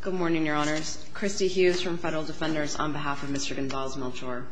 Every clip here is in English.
Good morning, Your Honors. Christy Hughes from Federal Defenders on behalf of Mr. Gonzalez-Melchor.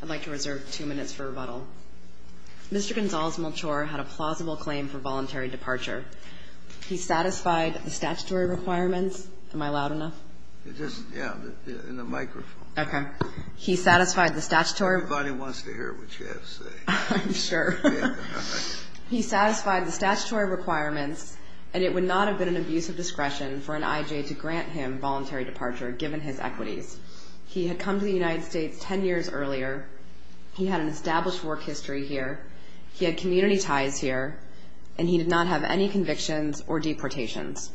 I'd like to reserve two minutes for rebuttal. Mr. Gonzalez-Melchor had a plausible claim for voluntary departure. He satisfied the statutory requirements. Am I loud enough? Yeah, in the microphone. Okay. He satisfied the statutory requirements. Nobody wants to hear what you have to say. I'm sure. He satisfied the statutory requirements and it would not have been an abuse of discretion for an IJ to grant him voluntary departure given his equities. He had come to the United States ten years earlier. He had an established work history here. He had community ties here and he did not have any convictions or deportations.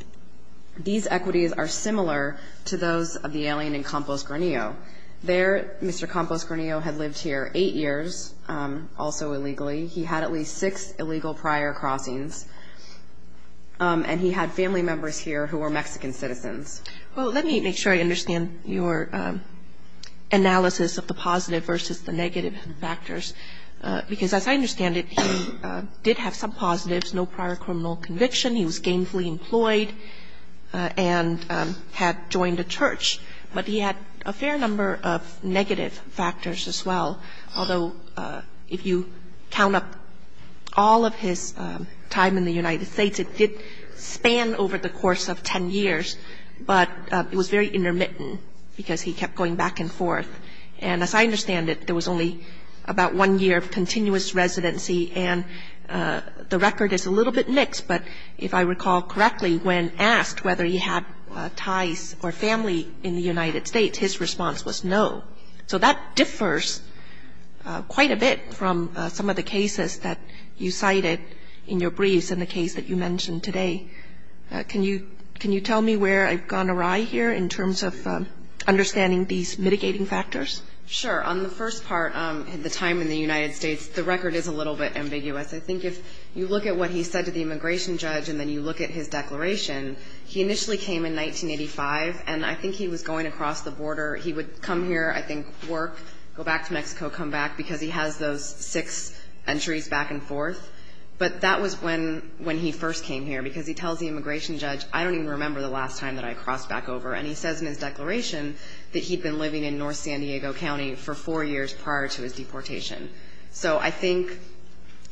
These equities are similar to those of the alien in Campos Granillo. There, Mr. Campos Granillo had lived here eight years, also illegally. He had at least six illegal prior crossings. And he had family members here who were Mexican citizens. Well, let me make sure I understand your analysis of the positive versus the negative factors. Because as I understand it, he did have some positives, no prior criminal conviction. He was gainfully employed and had joined a church. But he had a fair number of negative factors as well. Although if you count up all of his time in the United States, it did span over the course of ten years. But it was very intermittent because he kept going back and forth. And as I understand it, there was only about one year of continuous residency and the record is a little bit mixed. But if I recall correctly, when asked whether he had ties or family in the United States, his response was no. So that differs quite a bit from some of the cases that you cited in your briefs and the case that you mentioned today. Can you tell me where I've gone awry here in terms of understanding these mitigating factors? Sure. On the first part, the time in the United States, the record is a little bit ambiguous. I think if you look at what he said to the immigration judge and then you look at his declaration, he initially came in 1985. And I think he was going across the border. He would come here, I think, work, go back to Mexico, come back, because he has those six entries back and forth. But that was when he first came here, because he tells the immigration judge, I don't even remember the last time that I crossed back over. And he says in his declaration that he'd been living in north San Diego County for four years prior to his deportation. So I think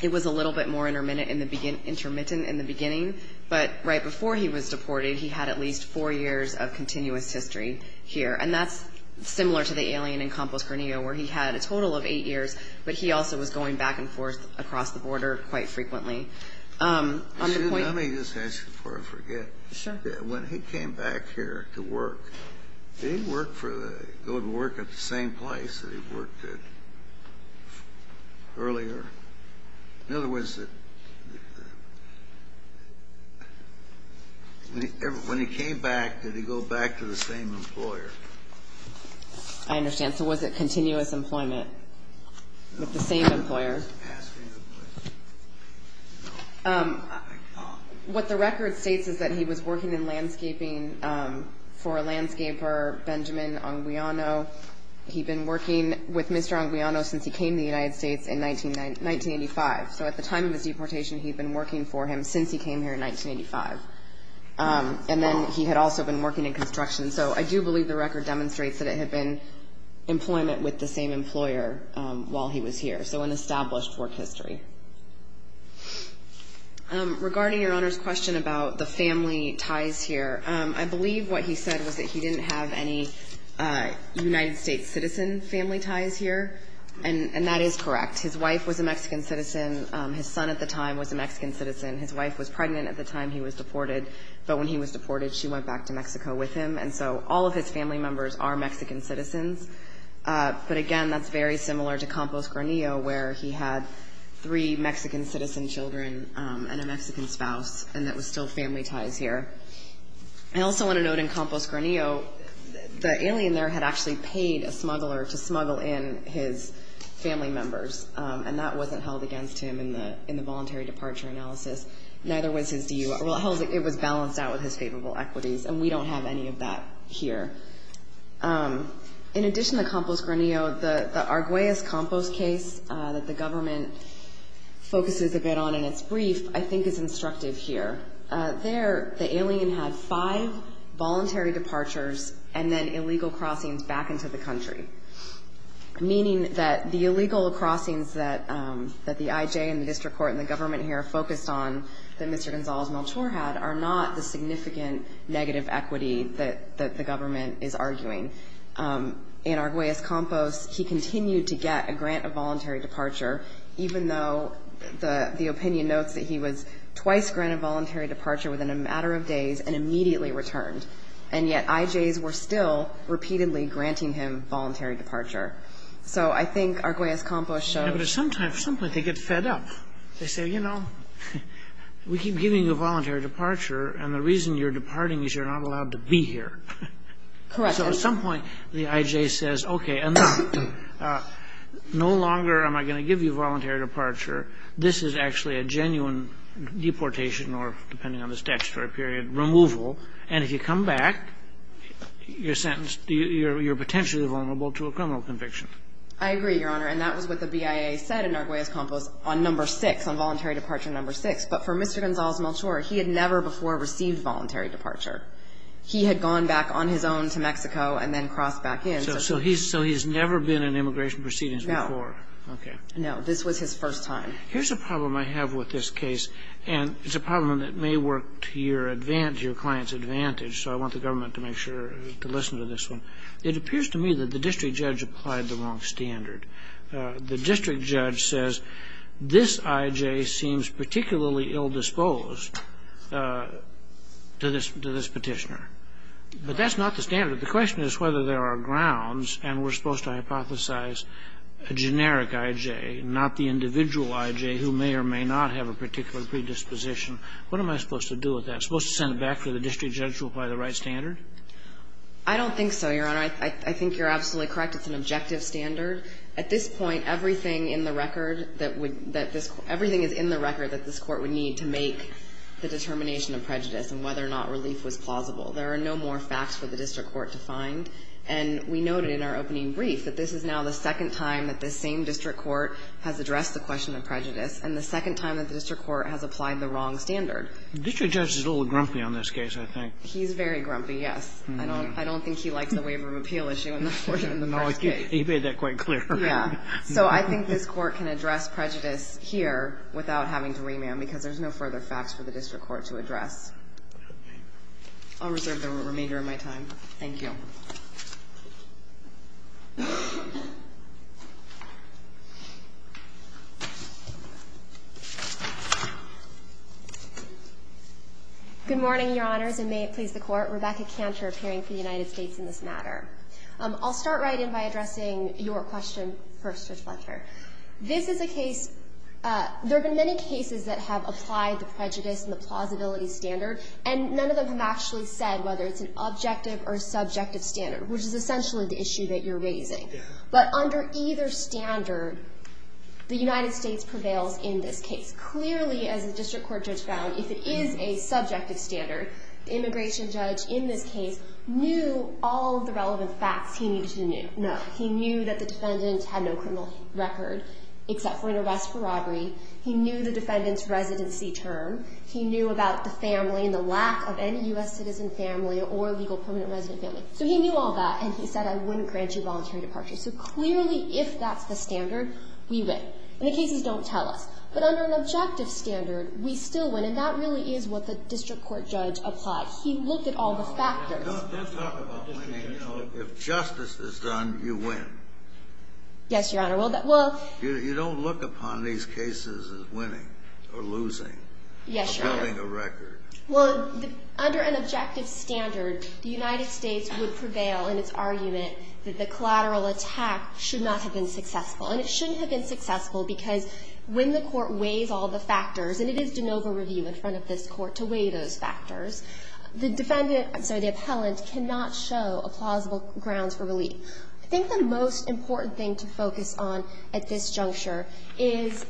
it was a little bit more intermittent in the beginning. But right before he was deported, he had at least four years of continuous history here. And that's similar to the alien in Campos, Garnillo, where he had a total of eight years, but he also was going back and forth across the border quite frequently. On the point of the ---- Let me just ask you before I forget. Sure. When he came back here to work, did he go to work at the same place that he worked at earlier? In other words, when he came back, did he go back to the same employer? I understand. So was it continuous employment with the same employer? What the record states is that he was working in landscaping for a landscaper, Benjamin Anguiano. He'd been working with Mr. Anguiano since he came to the United States in 1985. So at the time of his deportation, he'd been working for him since he came here in 1985. And then he had also been working in construction. So I do believe the record demonstrates that it had been employment with the same employer while he was here. So an established work history. Regarding Your Honor's question about the family ties here, I believe what he said was that he didn't have any United States citizen family ties here. And that is correct. His wife was a Mexican citizen. His son at the time was a Mexican citizen. His wife was pregnant at the time he was deported. But when he was deported, she went back to Mexico with him. And so all of his family members are Mexican citizens. But, again, that's very similar to Campos Granillo where he had three Mexican citizen children and a Mexican spouse. And that was still family ties here. I also want to note in Campos Granillo, the alien there had actually paid a smuggler to smuggle in his family members. And that wasn't held against him in the voluntary departure analysis. Neither was his DUI. Well, it was balanced out with his favorable equities. And we don't have any of that here. In addition to Campos Granillo, the Arguellas-Campos case that the government focuses a bit on in its brief, I think, is instructive here. There, the alien had five voluntary departures and then illegal crossings back into the country, meaning that the illegal crossings that the IJ and the district court and the government here focused on, that Mr. Gonzalez-Melchor had, are not the significant negative equity that the government is arguing. In Arguellas-Campos, he continued to get a grant of voluntary departure, even though the opinion notes that he was twice granted voluntary departure within a matter of days and immediately returned. And yet IJs were still repeatedly granting him voluntary departure. So I think Arguellas-Campos shows. But at some time, at some point, they get fed up. They say, you know, we keep giving you voluntary departure, and the reason you're departing is you're not allowed to be here. Correct. So at some point, the IJ says, okay, and now, no longer am I going to give you voluntary departure. This is actually a genuine deportation or, depending on the statutory period, removal. And if you come back, you're sentenced, you're potentially vulnerable to a criminal conviction. I agree, Your Honor. And that was what the BIA said in Arguellas-Campos on number six, on voluntary departure number six. But for Mr. Gonzalez-Melchor, he had never before received voluntary departure. He had gone back on his own to Mexico and then crossed back in. So he's never been in immigration proceedings before? No. Okay. No. This was his first time. Here's a problem I have with this case, and it's a problem that may work to your client's advantage, so I want the government to make sure to listen to this one. It appears to me that the district judge applied the wrong standard. The district judge says this IJ seems particularly ill-disposed to this Petitioner. But that's not the standard. The question is whether there are grounds, and we're supposed to hypothesize a generic IJ, not the individual IJ who may or may not have a particular predisposition. What am I supposed to do with that? I'm supposed to send it back to the district judge to apply the right standard? I don't think so, Your Honor. I think you're absolutely correct. It's an objective standard. At this point, everything in the record that would – that this – everything is in the record that this Court would need to make the determination of prejudice and whether or not relief was plausible. There are no more facts for the district court to find. And we noted in our opening brief that this is now the second time that this same district court has addressed the question of prejudice and the second time that the district court has applied the wrong standard. The district judge is a little grumpy on this case, I think. He's very grumpy, yes. I don't think he likes the waiver of appeal issue in the first case. He made that quite clear. Yeah. So I think this Court can address prejudice here without having to remand, because there's no further facts for the district court to address. I'll reserve the remainder of my time. Thank you. Good morning, Your Honors, and may it please the Court. I'm Rebecca Cantor, appearing for the United States in this matter. I'll start right in by addressing your question first, Judge Blanchard. This is a case – there have been many cases that have applied the prejudice and the plausibility standard, and none of them have actually said whether it's an objective or subjective standard, which is essentially the issue that you're raising. Yeah. But under either standard, the United States prevails in this case. Clearly, as the district court judge found, if it is a subjective standard, the district court judge in this case knew all of the relevant facts he needed to know. He knew that the defendant had no criminal record except for an arrest for robbery. He knew the defendant's residency term. He knew about the family and the lack of any U.S. citizen family or legal permanent resident family. So he knew all that, and he said, I wouldn't grant you voluntary departure. So clearly, if that's the standard, we win. And the cases don't tell us. But under an objective standard, we still win, and that really is what the district court judge applied. He looked at all the factors. Let's talk about winning, though. If justice is done, you win. Yes, Your Honor. Well, that will You don't look upon these cases as winning or losing. Yes, Your Honor. Or building a record. Well, under an objective standard, the United States would prevail in its argument that the collateral attack should not have been successful. And it shouldn't have been successful because when the court weighs all the factors and it is de novo review in front of this court to weigh those factors, the defendant I'm sorry, the appellant cannot show a plausible grounds for relief. I think the most important thing to focus on at this juncture is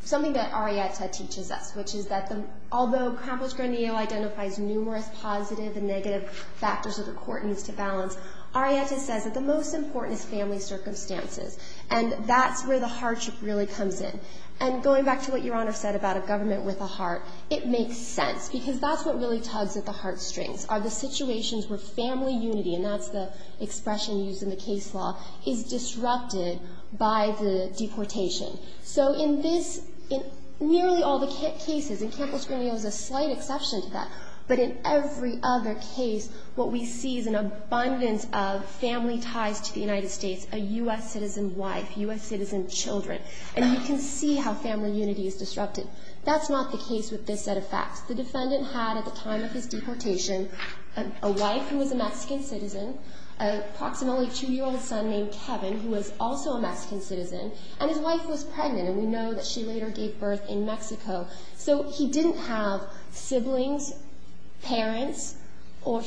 something that Arrietta teaches us, which is that although Krampus-Grandio identifies numerous positive and negative factors that a court needs to balance, Arrietta says that the most important is family circumstances. And that's where the hardship really comes in. And going back to what Your Honor said about a government with a heart, it makes sense because that's what really tugs at the heartstrings are the situations where family unity, and that's the expression used in the case law, is disrupted by the deportation. So in this, in nearly all the cases, and Krampus-Grandio is a slight exception to that, but in every other case, what we see is an abundance of family ties to the United States, a U.S. citizen wife, U.S. citizen children. And you can see how family unity is disrupted. That's not the case with this set of facts. The defendant had, at the time of his deportation, a wife who was a Mexican citizen, approximately a two-year-old son named Kevin who was also a Mexican citizen, and his wife was pregnant, and we know that she later gave birth in Mexico. So he didn't have siblings, parents, or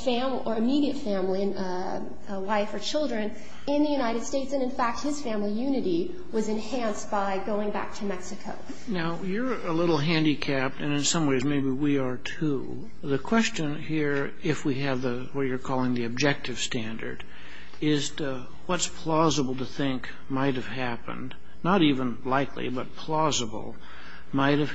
immediate family, a wife or children, in the case of this case. And we know that the case law is disrupted by the deportation of the U.S. citizen by going back to Mexico. Now, you're a little handicapped, and in some ways maybe we are, too. The question here, if we have what you're calling the objective standard, is what's plausible to think might have happened, not even likely, but plausible, might have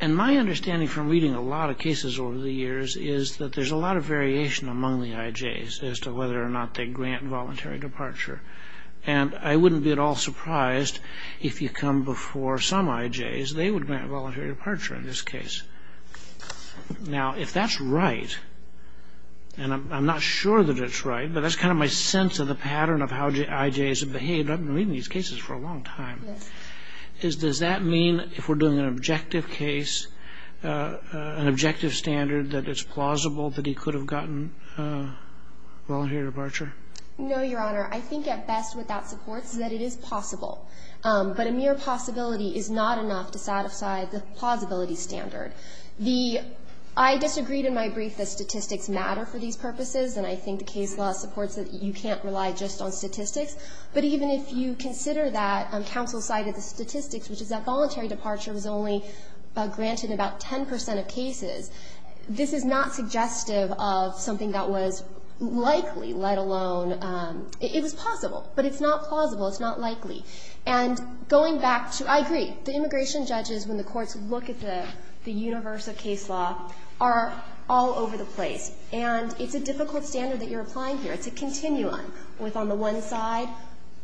And my understanding from reading a lot of cases over the years is that there's a lot of variation among the IJs as to whether or not they grant voluntary departure. And I wouldn't be at all surprised if you come before some IJs, they would grant voluntary departure in this case. Now, if that's right, and I'm not sure that it's right, but that's kind of my sense of the pattern of how IJs have behaved. I've been reading these cases for a long time. Does that mean if we're doing an objective case, an objective standard, that it's plausible that he could have gotten voluntary departure? No, Your Honor. I think at best what that supports is that it is possible. But a mere possibility is not enough to satisfy the plausibility standard. I disagreed in my brief that statistics matter for these purposes, and I think the case law supports that you can't rely just on statistics. But even if you consider that counsel cited the statistics, which is that voluntary departure was only granted in about 10 percent of cases, this is not suggestive of something that was likely, let alone it was possible. But it's not plausible. It's not likely. And going back to – I agree. The immigration judges, when the courts look at the universe of case law, are all over the place. And it's a difficult standard that you're applying here. It's a continuum with on the one side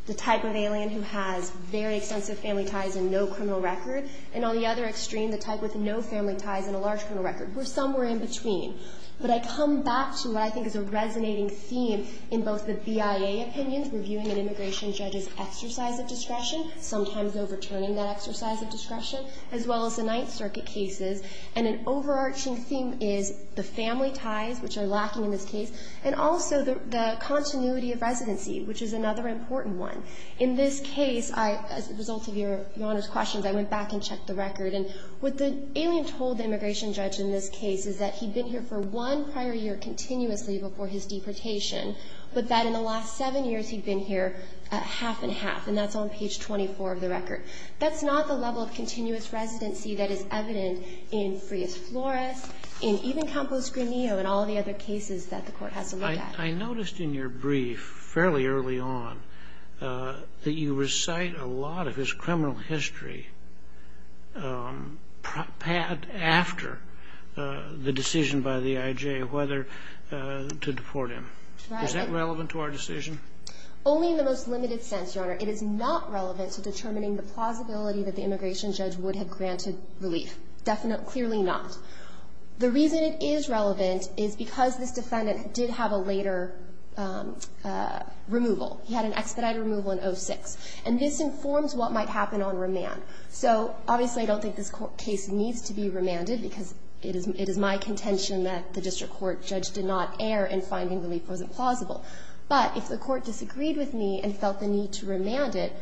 the type of alien who has very extensive family ties and no criminal record, and on the other extreme, the type with no family ties and a large criminal record. We're somewhere in between. But I come back to what I think is a resonating theme in both the BIA opinions, reviewing an immigration judge's exercise of discretion, sometimes overturning that exercise of discretion, as well as the Ninth Circuit cases. And an overarching theme is the family ties, which are lacking in this case, and also the continuity of residency, which is another important one. In this case, as a result of Your Honor's questions, I went back and checked the record. And what the alien told the immigration judge in this case is that he'd been here for one prior year continuously before his deportation, but that in the last seven years, he'd been here half and half. And that's on page 24 of the record. That's not the level of continuous residency that is evident in Frias Flores, in even all the other cases that the Court has to look at. I noticed in your brief, fairly early on, that you recite a lot of his criminal history after the decision by the IJ whether to deport him. Right. Is that relevant to our decision? Only in the most limited sense, Your Honor. It is not relevant to determining the plausibility that the immigration judge would have granted relief. Definitely not. The reason it is relevant is because this defendant did have a later removal. He had an expedited removal in 06. And this informs what might happen on remand. So, obviously, I don't think this case needs to be remanded, because it is my contention that the district court judge did not err in finding relief wasn't plausible. But if the court disagreed with me and felt the need to remand it,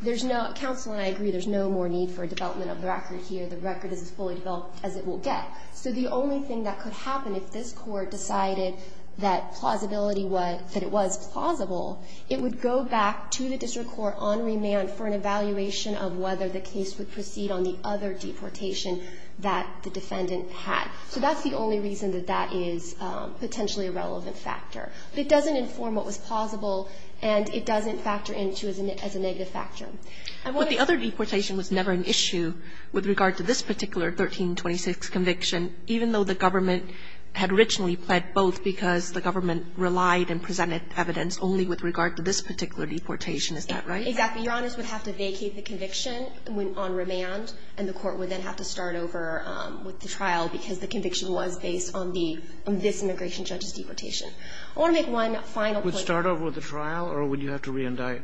there's no counsel, and I agree, there's no more need for a development of the record here. The record is as fully developed as it will get. So the only thing that could happen if this Court decided that plausibility was, that it was plausible, it would go back to the district court on remand for an evaluation of whether the case would proceed on the other deportation that the defendant had. So that's the only reason that that is potentially a relevant factor. It doesn't inform what was plausible, and it doesn't factor into as a negative But the other deportation was never an issue with regard to this particular 1326 conviction, even though the government had originally pled both because the government relied and presented evidence only with regard to this particular deportation. Is that right? Exactly. Your Honest would have to vacate the conviction on remand, and the court would then have to start over with the trial, because the conviction was based on the this immigration judge's deportation. I want to make one final point. Would you have to start over with the trial, or would you have to reindict?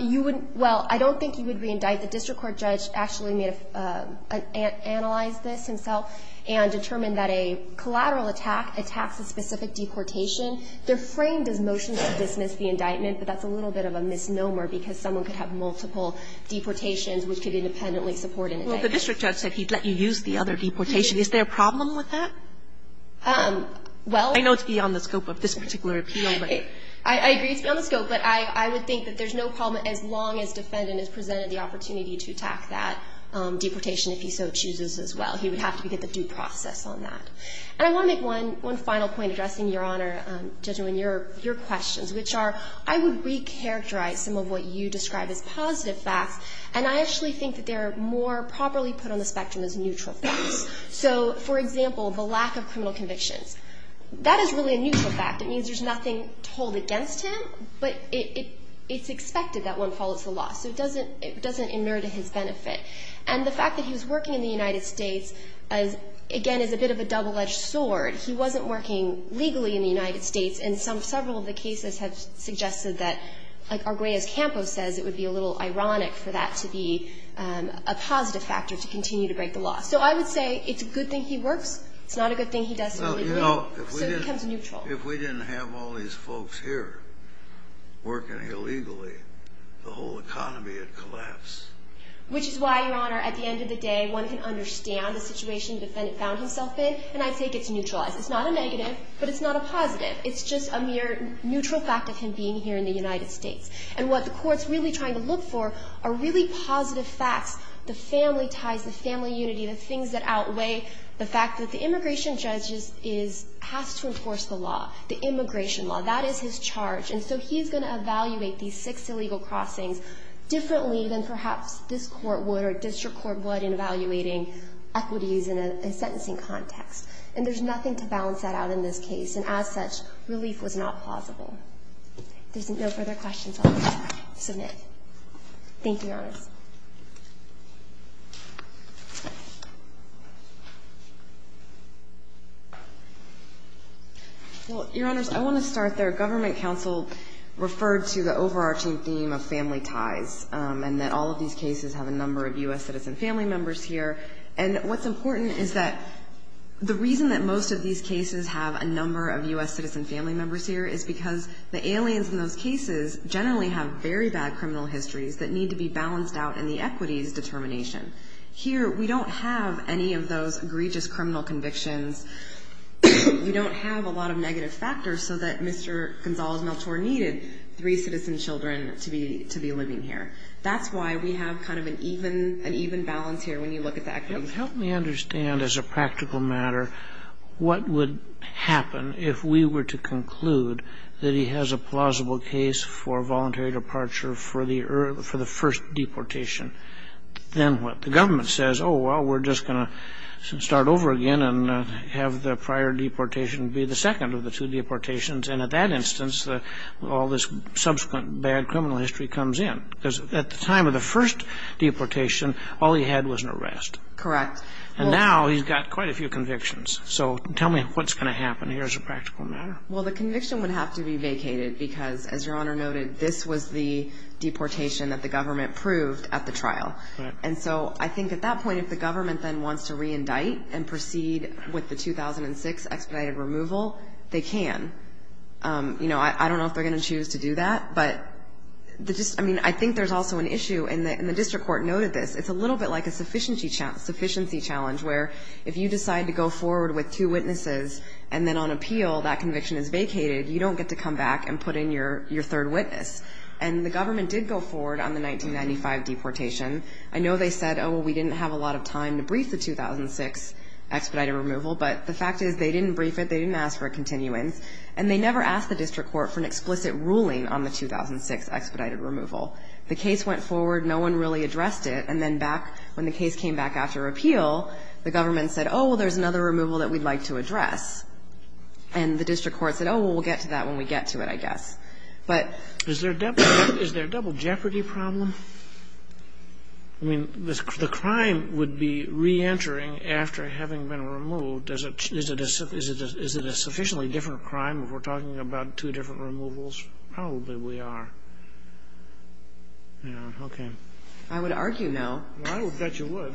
You wouldn't – well, I don't think you would reindict. The district court judge actually may have analyzed this himself and determined that a collateral attack attacks a specific deportation. They're framed as motions to dismiss the indictment, but that's a little bit of a misnomer because someone could have multiple deportations which could independently support an indictment. Well, the district judge said he'd let you use the other deportation. Is there a problem with that? Well – I know it's beyond the scope of this particular appeal, but – I agree it's beyond the scope, but I would think that there's no problem as long as defendant is presented the opportunity to attack that deportation if he so chooses as well. He would have to get the due process on that. And I want to make one final point addressing, Your Honor, Judge Newman, your questions, which are I would recharacterize some of what you describe as positive facts, and I actually think that they're more properly put on the spectrum as neutral facts. So, for example, the lack of criminal convictions. That is really a neutral fact. It means there's nothing to hold against him, but it's expected that one follows the law. So it doesn't – it doesn't emerge to his benefit. And the fact that he was working in the United States, again, is a bit of a double-edged sword. He wasn't working legally in the United States, and several of the cases have suggested that, like Arguelles Campos says, it would be a little ironic for that to be a positive factor to continue to break the law. So I would say it's a good thing he works. It's not a good thing he does something illegal. So it becomes neutral. If we didn't have all these folks here working illegally, the whole economy would collapse. Which is why, Your Honor, at the end of the day, one can understand the situation the defendant found himself in, and I take it's neutralized. It's not a negative, but it's not a positive. It's just a mere neutral fact of him being here in the United States. And what the Court's really trying to look for are really positive facts. The family ties, the family unity, the things that outweigh the fact that the immigration judge has to enforce the law, the immigration law. That is his charge. And so he's going to evaluate these six illegal crossings differently than perhaps this Court would or district court would in evaluating equities in a sentencing context. And there's nothing to balance that out in this case. And as such, relief was not plausible. If there's no further questions, I'll submit. Thank you, Your Honor. Thank you, Your Honors. Well, Your Honors, I want to start there. Government counsel referred to the overarching theme of family ties and that all of these cases have a number of U.S. citizen family members here. And what's important is that the reason that most of these cases have a number of U.S. citizen family members here is because the aliens in those cases generally have very bad criminal histories that need to be balanced out in the equities determination. Here we don't have any of those egregious criminal convictions. We don't have a lot of negative factors so that Mr. Gonzales-Melchor needed three citizen children to be living here. That's why we have kind of an even balance here when you look at the equities. Help me understand as a practical matter what would happen if we were to conclude that he has a plausible case for voluntary departure for the first deportation. Then what? The government says, oh, well, we're just going to start over again and have the prior deportation be the second of the two deportations. And at that instance, all this subsequent bad criminal history comes in. Because at the time of the first deportation, all he had was an arrest. Correct. And now he's got quite a few convictions. So tell me what's going to happen here as a practical matter. Well, the conviction would have to be vacated because, as Your Honor noted, this was the deportation that the government proved at the trial. And so I think at that point if the government then wants to reindict and proceed with the 2006 expedited removal, they can. I don't know if they're going to choose to do that. But I think there's also an issue, and the district court noted this, it's a little bit like a sufficiency challenge where if you decide to go forward with two witnesses and then on appeal that conviction is vacated, you don't get to come back and put in your third witness. And the government did go forward on the 1995 deportation. I know they said, oh, well, we didn't have a lot of time to brief the 2006 expedited removal, but the fact is they didn't brief it. They didn't ask for a continuance. And they never asked the district court for an explicit ruling on the 2006 expedited removal. The case went forward. No one really addressed it. And then back when the case came back after appeal, the government said, oh, well, there's another removal that we'd like to address. And the district court said, oh, well, we'll get to that when we get to it, I guess. But there's a double jeopardy problem. I mean, the crime would be reentering after having been removed. Is it a sufficiently different crime if we're talking about two different removals? Probably we are. Yeah. Okay. I would argue no. I would bet you would.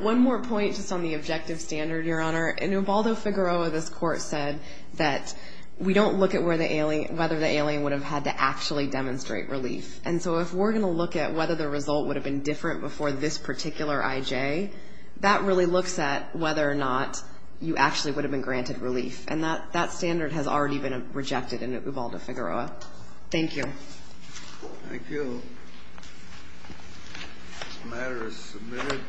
One more point just on the objective standard, Your Honor. In Ubaldo-Figueroa, this Court said that we don't look at whether the alien would have had to actually demonstrate relief. And so if we're going to look at whether the result would have been different before this particular I.J., that really looks at whether or not you actually would have been granted relief. And that standard has already been rejected in Ubaldo-Figueroa. Thank you. Thank you. This matter is submitted.